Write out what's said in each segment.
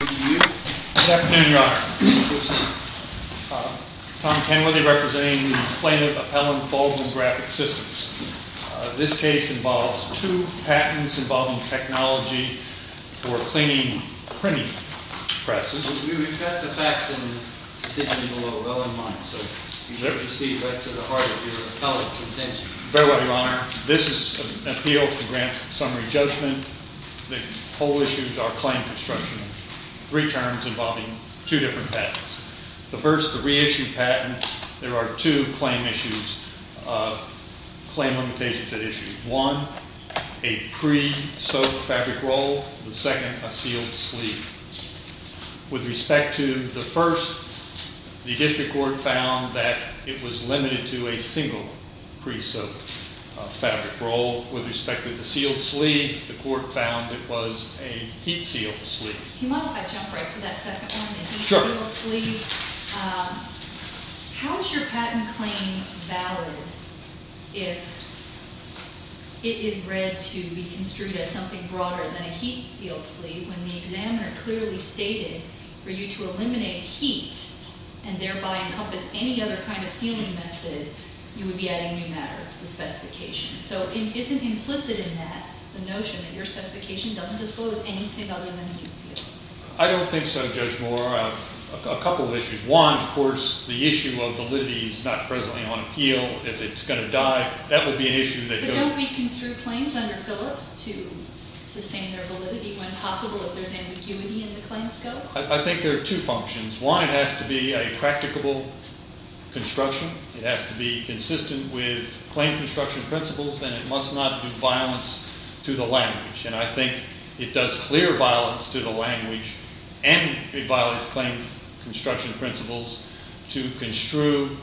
Good afternoon, Your Honor. Tom Kenworthy representing the plaintiff, Appellant Baldwin Graphic Systems. This case involves two patents involving technology for cleaning printing presses. We've got the facts and decisions below well in mind, so you can see right to the heart of your appellate contention. Very well, Your Honor. This is an appeal for grants and summary judgment. The whole issue is our claim construction. Three terms involving two different patents. The first, the reissued patent, there are two claim issues, claim limitations at issue. One, a pre-sewed fabric roll. The second, a sealed sleeve. With respect to the first, the district court found that it was limited to a single pre-sewed fabric roll. With respect to the sealed sleeve, the court found it was a heat sealed sleeve. How is your patent claim valid if it is read to be construed as something broader than a heat sealed sleeve when the examiner clearly stated for you to eliminate heat and thereby encompass any other kind of sealing method, you would be adding new matter to the specification. So isn't implicit in that the notion that your specification doesn't disclose anything other than heat sealing? I don't think so, Judge Moore. A couple of issues. One, of course, the issue of validity is not presently on appeal. If it's going to die, that would be an issue that goes... But don't we construe claims under Phillips to sustain their validity when possible if there's ambiguity in the claims scope? I think there are two functions. One, it has to be a practicable construction. It has to be consistent with claim construction principles and it must not do violence to the language. And I think it does clear violence to the language and it violates claim construction principles to construe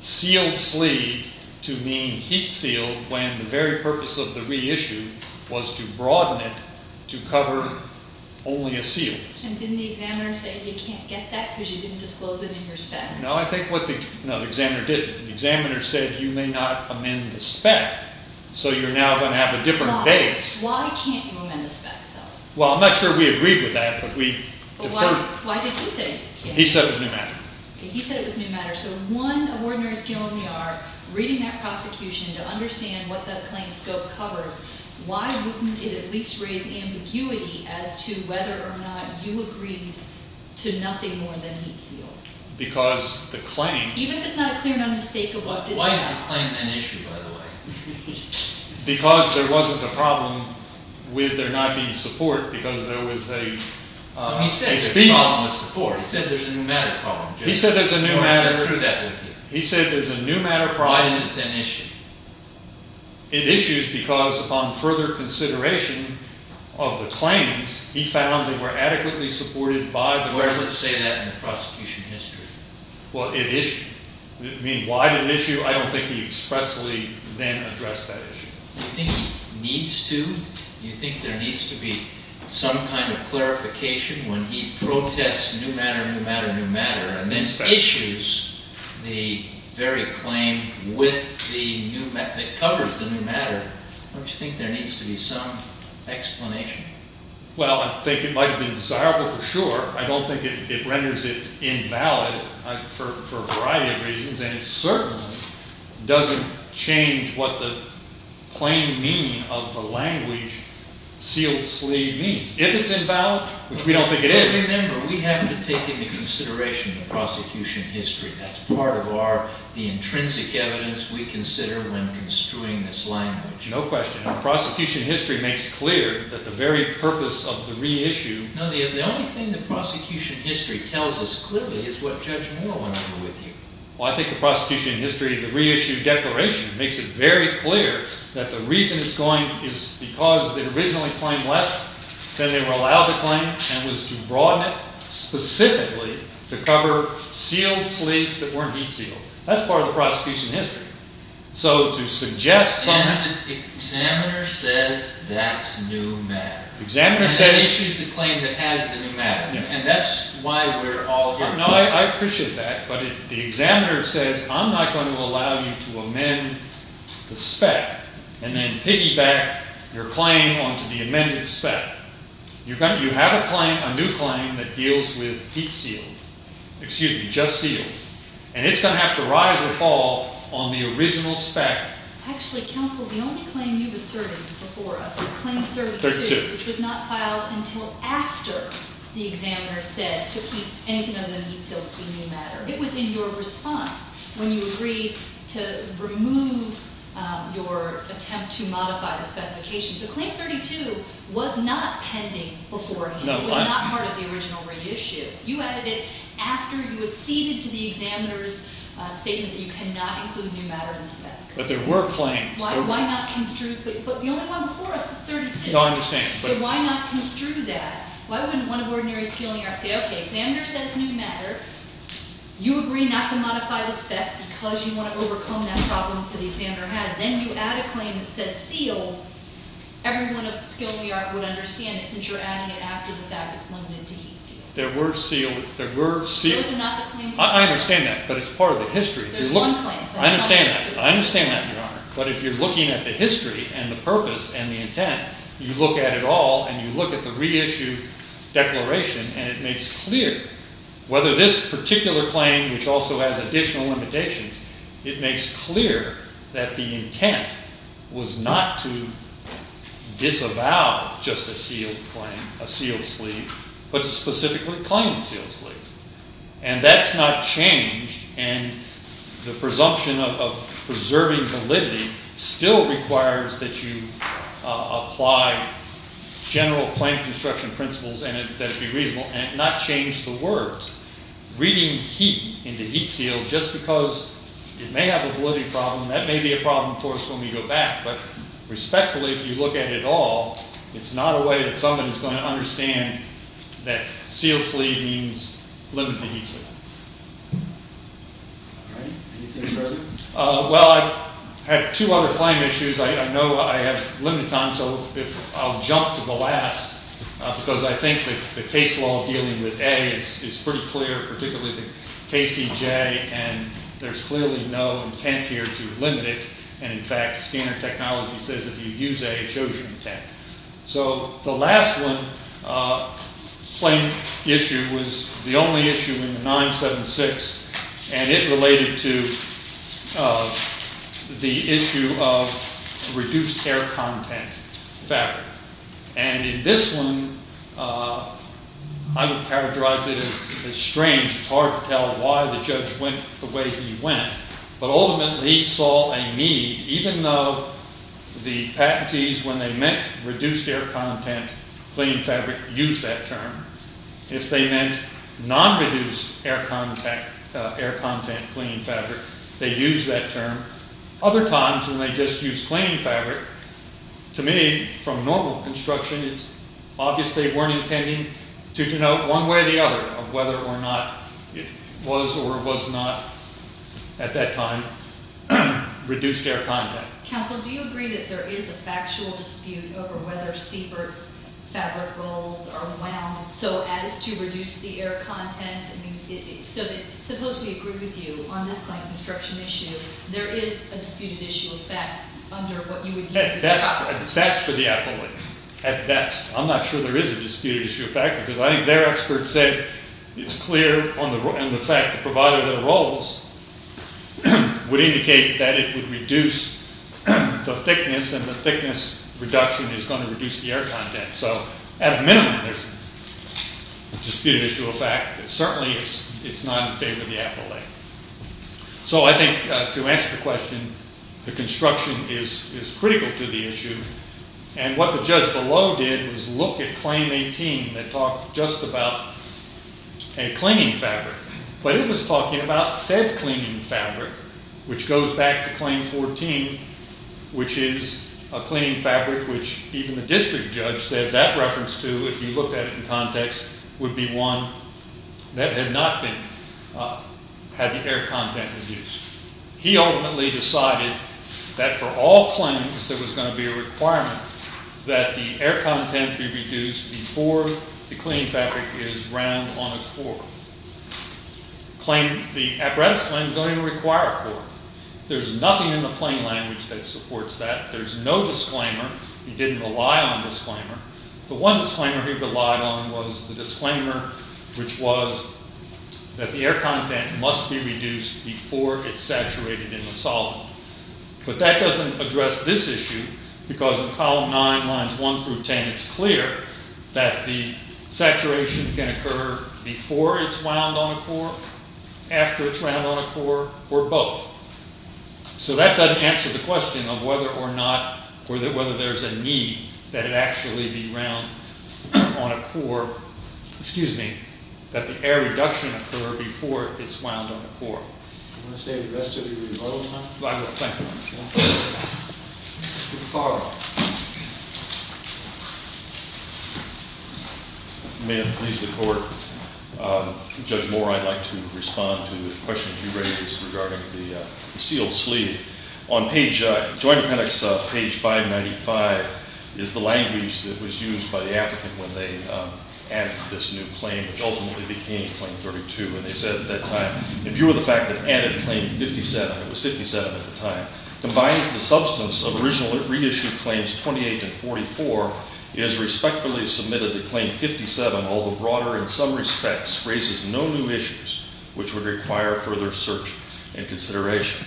sealed sleeve to mean heat sealed when the very purpose of the reissue was to broaden it to cover only a seal. And didn't the examiner say you can't get that because you didn't disclose it in your spec? No, the examiner didn't. The examiner said you may not amend the spec, so you're now going to have a different base. Why can't you amend the spec, though? Well, I'm not sure we agreed with that, but we... But why did he say it? He said it was a new matter. He said it was a new matter. So one, an ordinary skilled NER reading that prosecution to understand what the claim scope covers, why wouldn't it at least raise ambiguity as to whether or not you agreed to nothing more than heat seal? Because the claim... Even if it's not a clear mistake of what... Why did the claim then issue, by the way? Because there wasn't a problem with there not being support because there was a... But he said there's a problem with support. He said there's a new matter problem. He said there's a new matter... He said there's a new matter problem... Why is it then issued? It issues because upon further consideration of the claims, he found they were adequately supported by the... Where does it say that in the prosecution history? Well, it issued. I mean, why did it issue? I don't think he expressly then addressed that issue. Do you think he needs to? Do you think there needs to be some kind of clarification when he protests new matter, new matter, new matter, and then issues the very claim with the new... that covers the new matter? Don't you think there needs to be some explanation? Well, I think it might have been desirable for sure. I don't think it renders it invalid for a variety of reasons, and it certainly doesn't change what the plain meaning of the language sealed-sleeve means. If it's invalid, which we don't think it is... Remember, we have to take into consideration the prosecution history. That's part of our... the intrinsic evidence we consider when construing this language. No question. The prosecution history makes clear that the very purpose of the reissue... No, the only thing the prosecution history tells us clearly is what Judge Moore went over with you. Well, I think the prosecution history of the reissue declaration makes it very clear that the reason it's going is because it originally claimed less than they were allowed to claim and was to broaden it specifically to cover sealed sleeves that weren't heat-sealed. That's part of the prosecution history. So to suggest... And the examiner says that's new matter. Examiner says... And then issues the claim that has the new matter. And that's why we're all... I appreciate that, but the examiner says, I'm not going to allow you to amend the spec and then piggyback your claim onto the amended spec. You have a claim, a new claim, that deals with heat-sealed... excuse me, just sealed. And it's going to have to rise or fall on the original spec. Actually, counsel, the only claim you've asserted before us is Claim 32, which was not filed until after the examiner said to keep anything other than heat-sealed clean new matter. It was in your response when you agreed to remove your attempt to modify the specification. So Claim 32 was not pending beforehand. It was not part of the original reissue. You added it after you acceded to the examiner's statement that you cannot include new matter in the spec. But there were claims. Why not construe... But the only one before us is 32. No, I understand, but... So why not construe that? Why wouldn't one of ordinary skill-only art say, Okay, examiner says new matter. You agree not to modify the spec because you want to overcome that problem that the examiner has. Then you add a claim that says sealed. Everyone of skill-only art would understand it since you're adding it after the fact it's limited to heat-sealed. There were sealed... Those are not the claims. I understand that, but it's part of the history. There's one claim. I understand that. I understand that, Your Honor. But if you're looking at the history and the purpose and the intent, you look at it all and you look at the reissue declaration and it makes clear whether this particular claim, which also has additional limitations, it makes clear that the intent was not to disavow just a sealed claim, a sealed sleeve, but to specifically claim a sealed sleeve. And that's not changed. And the presumption of preserving validity still requires that you apply general claim construction principles that would be reasonable and not change the words. Reading heat into heat-sealed just because it may have a validity problem, that may be a problem for us when we go back. But respectfully, if you look at it all, it's not a way that someone is going to understand that sealed sleeve means limited heat-sealed. All right. Anything further? Well, I have two other claim issues I know I have limit on, so I'll jump to the last because I think the case law dealing with A is pretty clear, particularly the KCJ, and there's clearly no intent here to limit it. And in fact, scanner technology says if you use A, it shows you intent. So the last one claim issue was the only issue in the 976, and it related to the issue of reduced air content fabric. And in this one, I would characterize it as strange. It's hard to tell why the judge went the way he went. But ultimately, he saw a need, even though the patentees, when they meant reduced air content, clean fabric, used that term. If they meant non-reduced air content, clean fabric, they used that term. Other times, when they just used clean fabric, to me, from normal construction, it's obvious they weren't intending to denote one way or the other of whether or not it was or was not, at that time, reduced air content. Counsel, do you agree that there is a factual dispute over whether Siebert's fabric rolls are wound so as to reduce the air content? I mean, so it's supposed to be a group of you on this claim construction issue. There is a disputed issue of fact under what you would deem to be the problem. At best, for the appellate. At best. I'm not sure there is a disputed issue of fact, because I think their expert said it's clear on the fact the provider of the rolls would indicate that it would reduce the thickness, and the thickness reduction is going to reduce the air content. So at a minimum, there's a disputed issue of fact. Certainly, it's not in favor of the appellate. So I think, to answer the question, the construction is critical to the issue. And what the judge below did was look at Claim 18 that talked just about a cleaning fabric. But it was talking about said cleaning fabric, which goes back to Claim 14, which is a cleaning fabric which even the district judge said that reference to, if you looked at it in context, would be one that had not had the air content reduced. He ultimately decided that for all claims, there was going to be a requirement that the air content be reduced before the cleaning fabric is round on a core. The apparatus claim is going to require a core. There's nothing in the plain language that supports that. There's no disclaimer. He didn't rely on a disclaimer. The one disclaimer he relied on was the disclaimer which was that the air content must be reduced before it's saturated in the solvent. But that doesn't address this issue because in Column 9, Lines 1 through 10, it's clear that the saturation can occur before it's wound on a core, after it's wound on a core, or both. So that doesn't answer the question of whether or not, or whether there's a need that it actually be wound on a core, excuse me, that the air reduction occur before it's wound on a core. Do you want to say the rest of your rebuttal time? I will. Thank you. Mr. Farrell. May it please the Court. Judge Moore, I'd like to respond to the questions you raised regarding the sealed sleeve. On page, Joint Appendix, page 595, is the language that was used by the applicant when they added this new claim, which ultimately became Claim 32. And they said at that time, if you were the fact that added Claim 57, it was 57 at the time, combines the substance of original reissued Claims 28 and 44, it is respectfully submitted that Claim 57, although broader in some respects, raises no new issues which would require further search and consideration.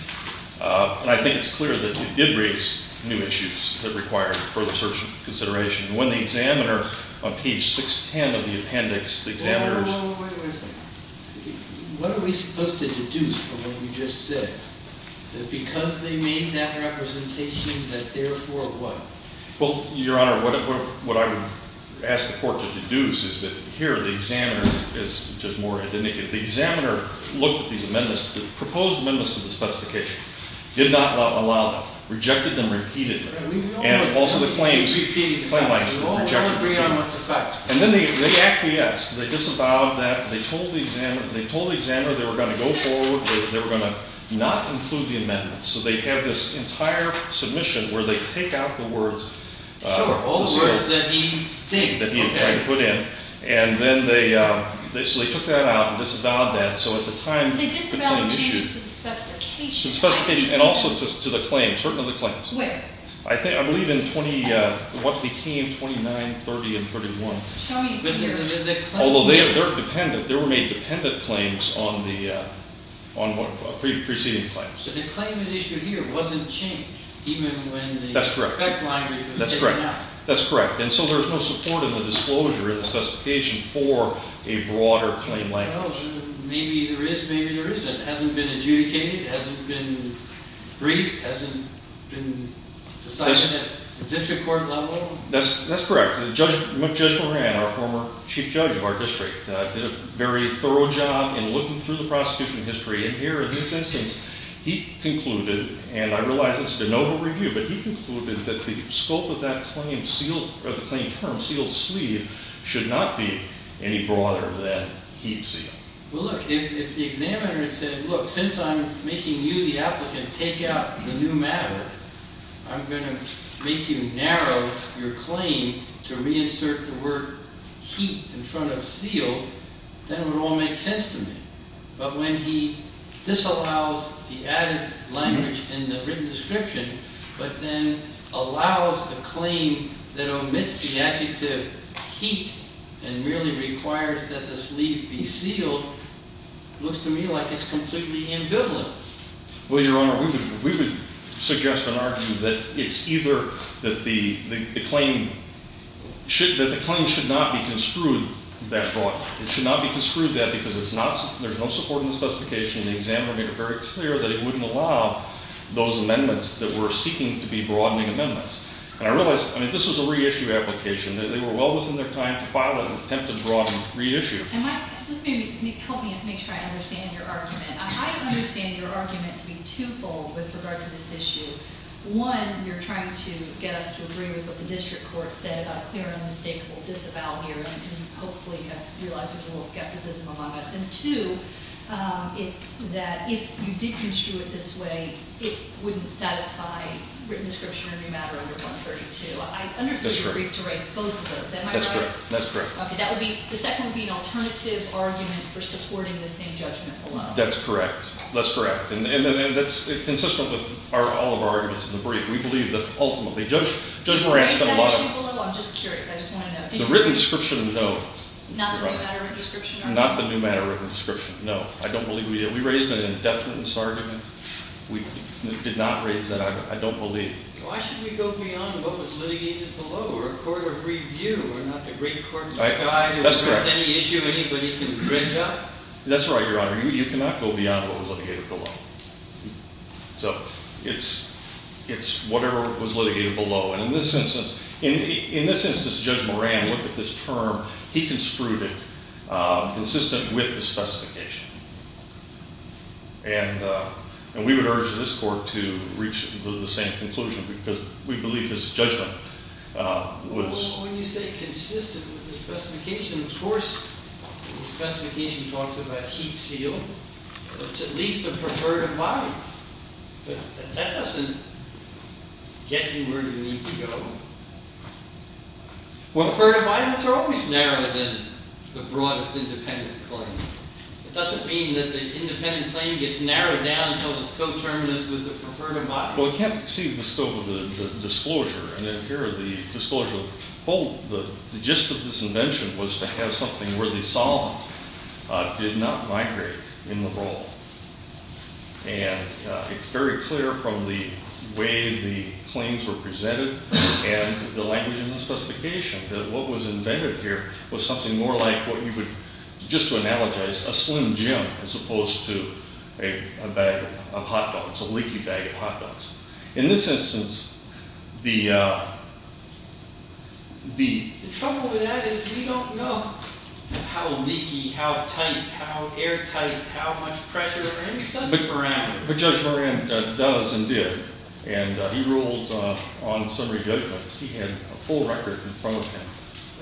And I think it's clear that it did raise new issues that required further search and consideration. When the examiner, on page 610 of the appendix, the examiner's… Well, wait a minute. What are we supposed to deduce from what you just said? That because they made that representation, that therefore what? Well, Your Honor, what I would ask the Court to deduce is that here the examiner is just more indicative. The examiner looked at these amendments, the proposed amendments to the specification, did not allow them, rejected them repeatedly. And also the claims, the claim lines were rejected repeatedly. And then they acquiesced. They disavowed that. They told the examiner they were going to go forward. They were going to not include the amendments. So they have this entire submission where they take out the words. Sure, all the words that he did. That he tried to put in. And then they basically took that out and disavowed that. So at the time… They disavowed the changes to the specification. To the specification and also to the claims, certain of the claims. With? I believe in what became 29, 30, and 31. Show me here. Although they're dependent. There were made dependent claims on the preceding claims. But the claim at issue here wasn't changed even when the… That's correct. That's correct. That's correct. And so there's no support in the disclosure of the specification for a broader claim language. Maybe there is, maybe there isn't. It hasn't been adjudicated. It hasn't been briefed. It hasn't been decided at the district court level. That's correct. Judge Moran, our former chief judge of our district, did a very thorough job in looking through the prosecution history. And here in this instance, he concluded, and I realize it's de novo review, but he concluded that the scope of that claim, of the claim term, sealed sleeve, should not be any broader than he'd see. Well, look, if the examiner had said, look, since I'm making you the applicant take out the new matter, I'm going to make you narrow your claim to reinsert the word heat in front of sealed, then it would all make sense to me. But when he disallows the added language in the written description but then allows a claim that omits the adjective heat and merely requires that the sleeve be sealed, it looks to me like it's completely ambivalent. Well, Your Honor, we would suggest and argue that it's either that the claim should not be construed that broad. It should not be construed that because there's no support in the specification. The examiner made it very clear that it wouldn't allow those amendments that were seeking to be broadening amendments. And I realize, I mean, this was a reissue application. They were well within their time to file an attempt to broaden reissue. And Mike, just maybe help me make sure I understand your argument. I understand your argument to be twofold with regard to this issue. One, you're trying to get us to agree with what the district court said about a clear and unmistakable disavowal here and hopefully realize there's a little skepticism among us. And two, it's that if you did construe it this way, it wouldn't satisfy written description of the matter under 132. I understand you agreed to raise both of those. That's correct. Okay. The second would be an alternative argument for supporting the same judgment below. That's correct. That's correct. And that's consistent with all of our arguments in the brief. We believe that ultimately Judge Moran spent a lot of- I'm just curious. I just want to know. The written description, no. Not the new matter written description? Not the new matter written description, no. I don't believe we did. We raised an indefinite misargument. We did not raise that. I don't believe. Why should we go beyond what was litigated below or a court of review or not the great court of the sky where there's any issue anybody can bridge on? That's right, Your Honor. You cannot go beyond what was litigated below. So it's whatever was litigated below. And in this instance, Judge Moran looked at this term. He construed it consistent with the specification. And we would urge this court to reach the same conclusion because we believe his judgment was- Well, when you say consistent with the specification, of course the specification talks about heat seal. It's at least the preferred embodiment. But that doesn't get you where you need to go. Well, preferred embodiments are always narrower than the broadest independent claim. It doesn't mean that the independent claim gets narrowed down until it's coterminous with the preferred embodiment. Well, we can't exceed the scope of the disclosure. And here the disclosure, the gist of this invention was to have something where the solvent did not migrate in the roll. And it's very clear from the way the claims were presented and the language in the specification that what was invented here was something more like what you would just to analogize a slim gym as opposed to a bag of hot dogs, a leaky bag of hot dogs. In this instance, the- The trouble with that is we don't know how leaky, how tight, how airtight, how much pressure or any such parameter. But Judge Moran does and did. And he ruled on summary judgment. He had a full record in front of him.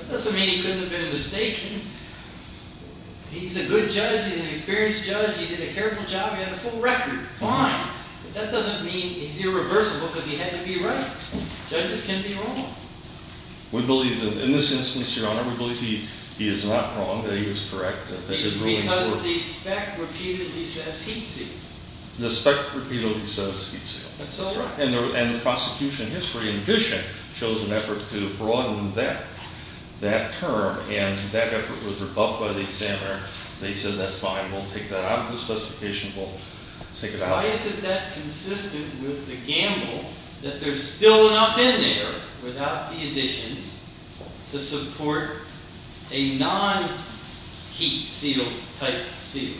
That doesn't mean he couldn't have been mistaken. He's a good judge. He's an experienced judge. He did a careful job. He had a full record. Fine. But that doesn't mean he's irreversible because he had to be right. Judges can be wrong. We believe that in this instance, Your Honor, we believe he is not wrong, that he was correct, that his rulings were- Because the spec repeatedly says heat seal. The spec repeatedly says heat seal. That's all right. And the prosecution in history, in addition, chose an effort to broaden that term. And that effort was rebuffed by the examiner. They said that's fine. We'll take that out of the specification. We'll take it out. Why is it that consistent with the gamble that there's still enough in there without the additions to support a non-heat seal type seal?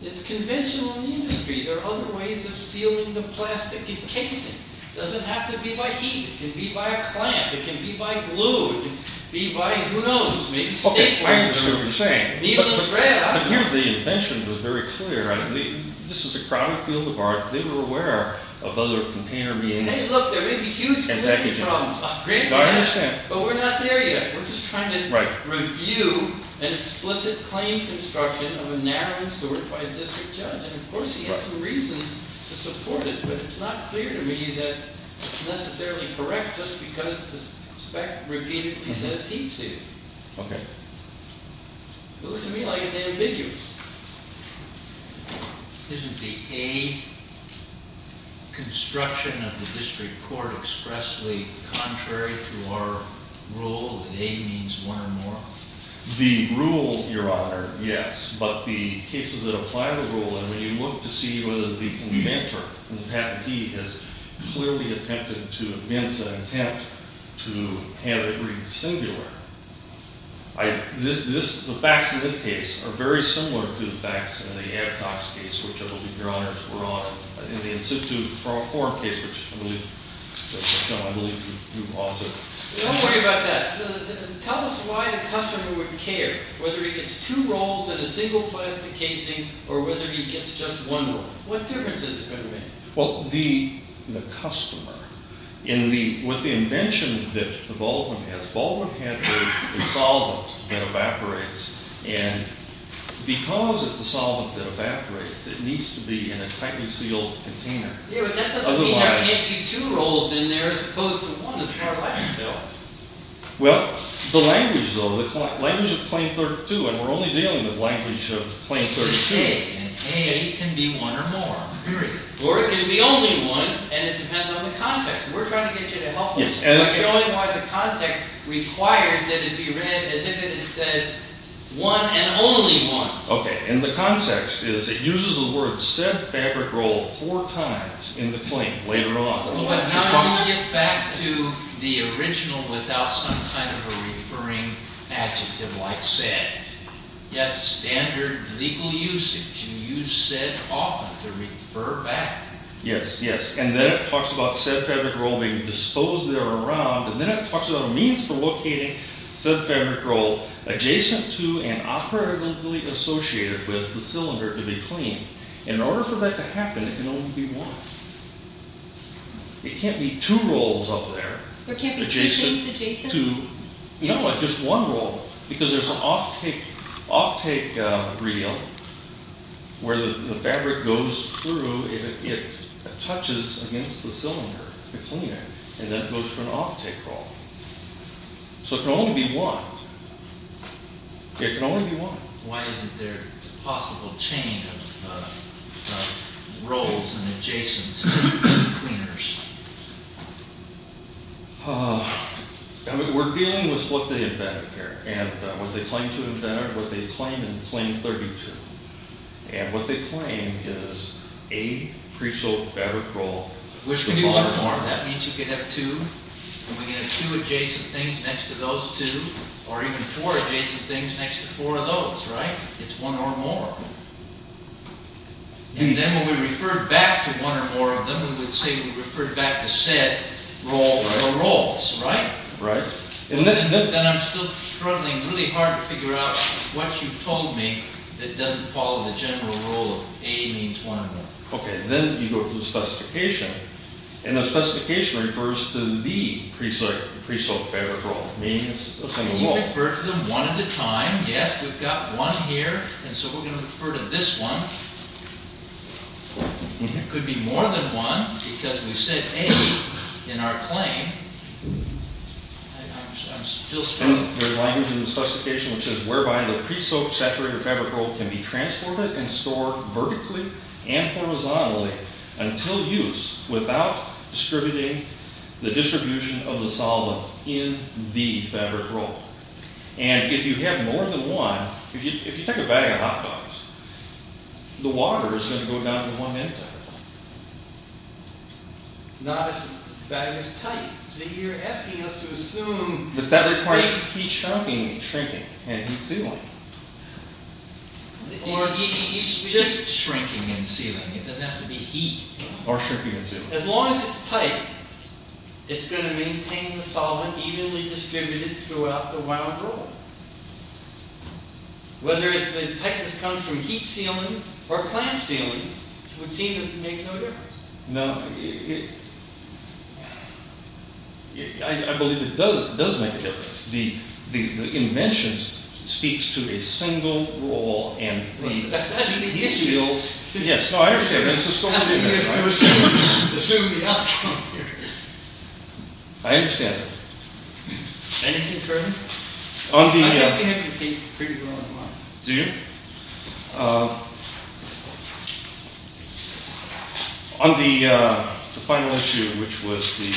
It's conventional in the industry. There are other ways of sealing the plastic and casing. It doesn't have to be by heat. It can be by a clamp. It can be by glue. It can be by, who knows, maybe state- Okay, I understand what you're saying. The invention was very clear. This is a crowded field of art. They were aware of other container- Hey, look, there may be huge problems. I understand. But we're not there yet. We're just trying to review an explicit claim construction of a narrowing sort by a district judge. And, of course, he had some reasons to support it. But it's not clear to me that it's necessarily correct just because the spec repeatedly says heat seal. Okay. It looks to me like it's ambiguous. Isn't the A construction of the district court expressly contrary to our rule that A means one or more? The rule, Your Honor, yes. But the cases that apply the rule, and when you look to see whether the inventor and the patentee has clearly attempted to amend the intent to have it read singular, the facts in this case are very similar to the facts in the Adcox case, which I believe Your Honors were on, and the Institute 4 case, which I believe you also- Don't worry about that. Tell us why the customer would care, whether he gets two rolls in a single plastic casing or whether he gets just one roll. What difference is it going to make? Well, the customer, with the invention that Baldwin has, Baldwin had a solvent that evaporates, and because it's a solvent that evaporates, it needs to be in a tightly sealed container. Yeah, but that doesn't mean there can't be two rolls in there as opposed to one as far as I can tell. Well, the language, though, the language of Claim 32, and we're only dealing with language of Claim 32- A, and A can be one or more, period. Or it can be only one, and it depends on the context. We're trying to get you to help us. We're showing why the context requires that it be read as if it had said one and only one. Okay, and the context is it uses the word said fabric roll four times in the claim later on. Now let's get back to the original without some kind of a referring adjective like said. Yes, standard legal usage. You use said often to refer back. Yes, yes, and then it talks about said fabric roll being disposed there around, and then it talks about a means for locating said fabric roll adjacent to and operatively associated with the cylinder to be claimed. In order for that to happen, it can only be one. It can't be two rolls up there. There can't be two things adjacent? No, just one roll, because there's an off-take reel where the fabric goes through. It touches against the cylinder, the cleaner, and that goes for an off-take roll. So it can only be one. It can only be one. Why isn't there a possible chain of rolls and adjacent cleaners? We're dealing with what they invented here, and what they claim to have invented, what they claim in claim 32. And what they claim is a pre-sold fabric roll. Which can be one or more. That means you can have two, and we can have two adjacent things next to those two, or even four adjacent things next to four of those, right? It's one or more. And then when we refer back to one or more of them, we would say we refer back to said roll or rolls, right? Right. Then I'm still struggling really hard to figure out what you told me that doesn't follow the general rule of A means one or more. Okay, then you go to the specification, and the specification refers to the pre-sold fabric roll. Can you refer to them one at a time? Yes, we've got one here, and so we're going to refer to this one. It could be more than one, because we said A in our claim. I'm still struggling. There's a line in the specification which says whereby the pre-soaked saturated fabric roll can be transformed and stored vertically and horizontally until use without distributing the distribution of the solvent in the fabric roll. And if you have more than one, if you take a bag of hot dogs, the water is going to go down in one minute. Not if the bag is tight. So you're asking us to assume that that requires heat shrinking and heat sealing. Or just shrinking and sealing. It doesn't have to be heat. Or shrinking and sealing. As long as it's tight, it's going to maintain the solvent evenly distributed throughout the wound roll. Whether the tightness comes from heat sealing or clamp sealing, it would seem to make no difference. No. I believe it does make a difference. The invention speaks to a single roll. That's the issue. Yes, I understand. That's the issue. Assume the outcome here. I understand. Anything further? I think we have to take a pretty broad line. Do you? On the final issue, which was the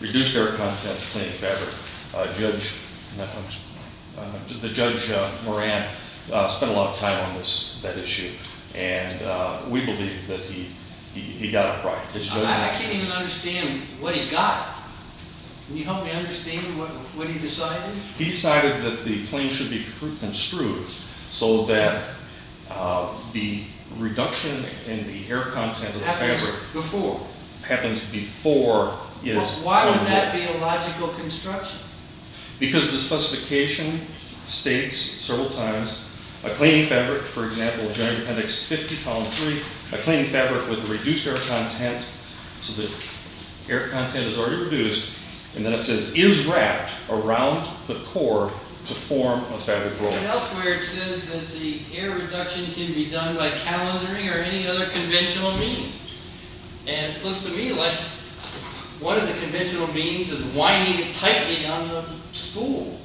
reduced air content cleaning fabric, Judge Moran spent a lot of time on that issue. And we believe that he got it right. I can't even understand what he got. Can you help me understand what he decided? He decided that the cleaning should be construed so that the reduction in the air content of the fabric happens before it is formed. Why would that be a logical construction? Because the specification states several times, a cleaning fabric, for example, General Appendix 50, Column 3, a cleaning fabric with reduced air content, so the air content is already reduced, and then it says, is wrapped around the core to form a fabric roll. Elsewhere it says that the air reduction can be done by calendaring or any other conventional means. And it looks to me like one of the conventional means is winding it tightly on the spool.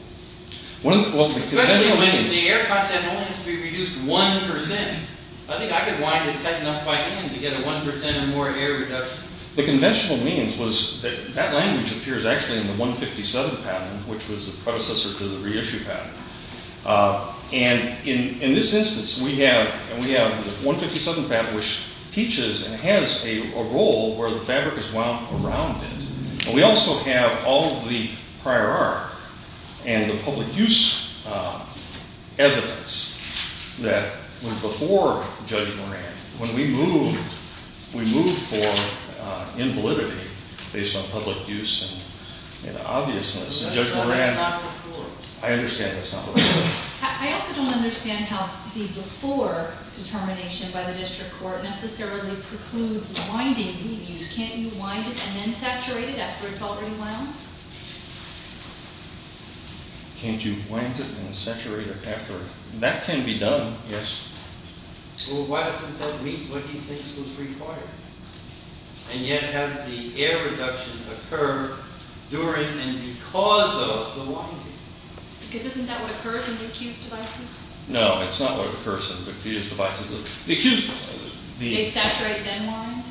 The air content only has to be reduced 1%. I think I could wind it tight enough by hand to get a 1% or more air reduction. The conventional means was that that language appears actually in the 157 patent, which was the predecessor to the reissue patent. And in this instance, we have the 157 patent, which teaches and has a roll where the fabric is wound around it. And we also have all of the prior art and the public use evidence that was before Judge Moran. When we move, we move for invalidity based on public use and obviousness. That's not before. I understand that's not before. I also don't understand how the before determination by the district court necessarily precludes the winding being used. Can't you wind it and then saturate it after it's already wound? Can't you wind it and then saturate it after? That can be done, yes. Well, why doesn't that meet what he thinks was required? And yet have the air reductions occur during and because of the winding? Because isn't that what occurs in the accused devices? No, it's not what occurs in the accused devices. They saturate then wind?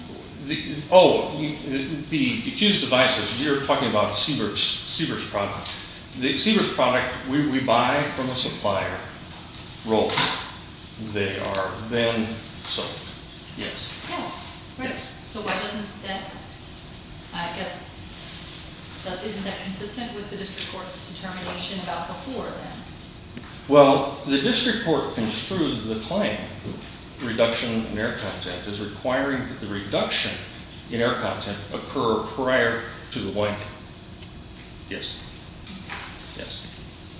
Oh, the accused devices. You're talking about Siebert's product. The Siebert's product, we buy from a supplier, roll it. They are then sold, yes. Oh, right. So why doesn't that, I guess, isn't that consistent with the district court's determination about before then? Well, the district court construed the claim, reduction in air content, is requiring that the reduction in air content occur prior to the winding. Yes. Yes.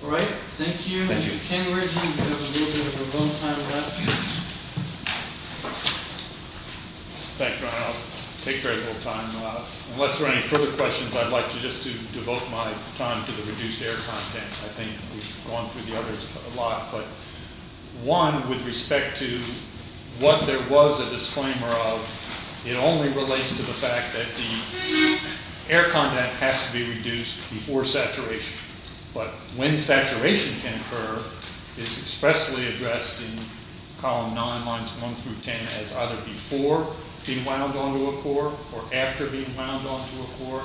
All right, thank you. Thank you. Mr. Kenridge, you have a little bit of remote time left. Thanks, Ron. I'll take very little time. Unless there are any further questions, I'd like to just devote my time to the reduced air content. I think we've gone through the others a lot. But one, with respect to what there was a disclaimer of, it only relates to the fact that the air content has to be reduced before saturation. But when saturation can occur, it's expressly addressed in column 9, lines 1 through 10, as either before being wound onto a core or after being wound onto a core,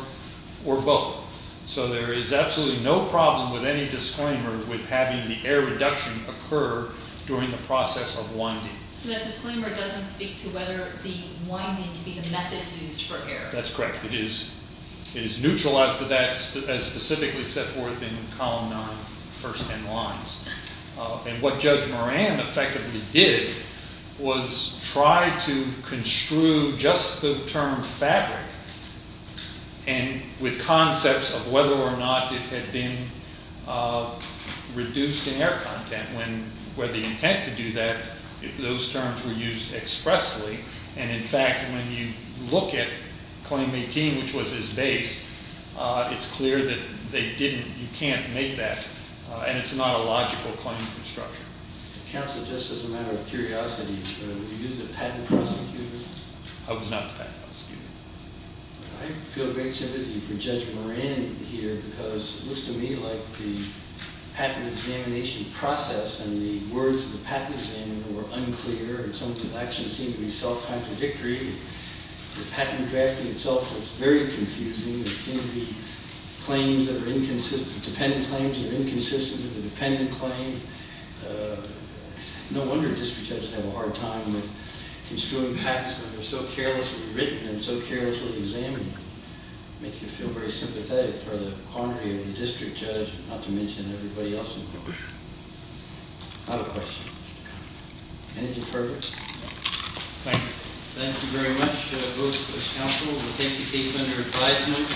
or both. So there is absolutely no problem with any disclaimer with having the air reduction occur during the process of winding. So that disclaimer doesn't speak to whether the winding can be the method used for air. That's correct. It is neutralized to that, as specifically set forth in column 9, first 10 lines. And what Judge Moran effectively did was try to construe just the term fabric with concepts of whether or not it had been reduced in air content. Where the intent to do that, those terms were used expressly. And in fact, when you look at Claim 18, which was his base, it's clear that you can't make that. And it's not a logical claim construction. Counsel, just as a matter of curiosity, were you the patent prosecutor? I was not the patent prosecutor. I feel great sympathy for Judge Moran here, because it looks to me like the patent examination process and the words of the patent examiner were unclear. And some of the actions seemed to be self-contradictory. The patent drafting itself was very confusing. There can be claims that are inconsistent, dependent claims that are inconsistent with a dependent claim. No wonder district judges have a hard time with construing patents when they're so carelessly written and so carelessly examined. Makes you feel very sympathetic for the quandary of the district judge, not to mention everybody else involved. I have a question. Anything further? Thank you. Thank you very much, both of us counsel. We'll take the case under advisement.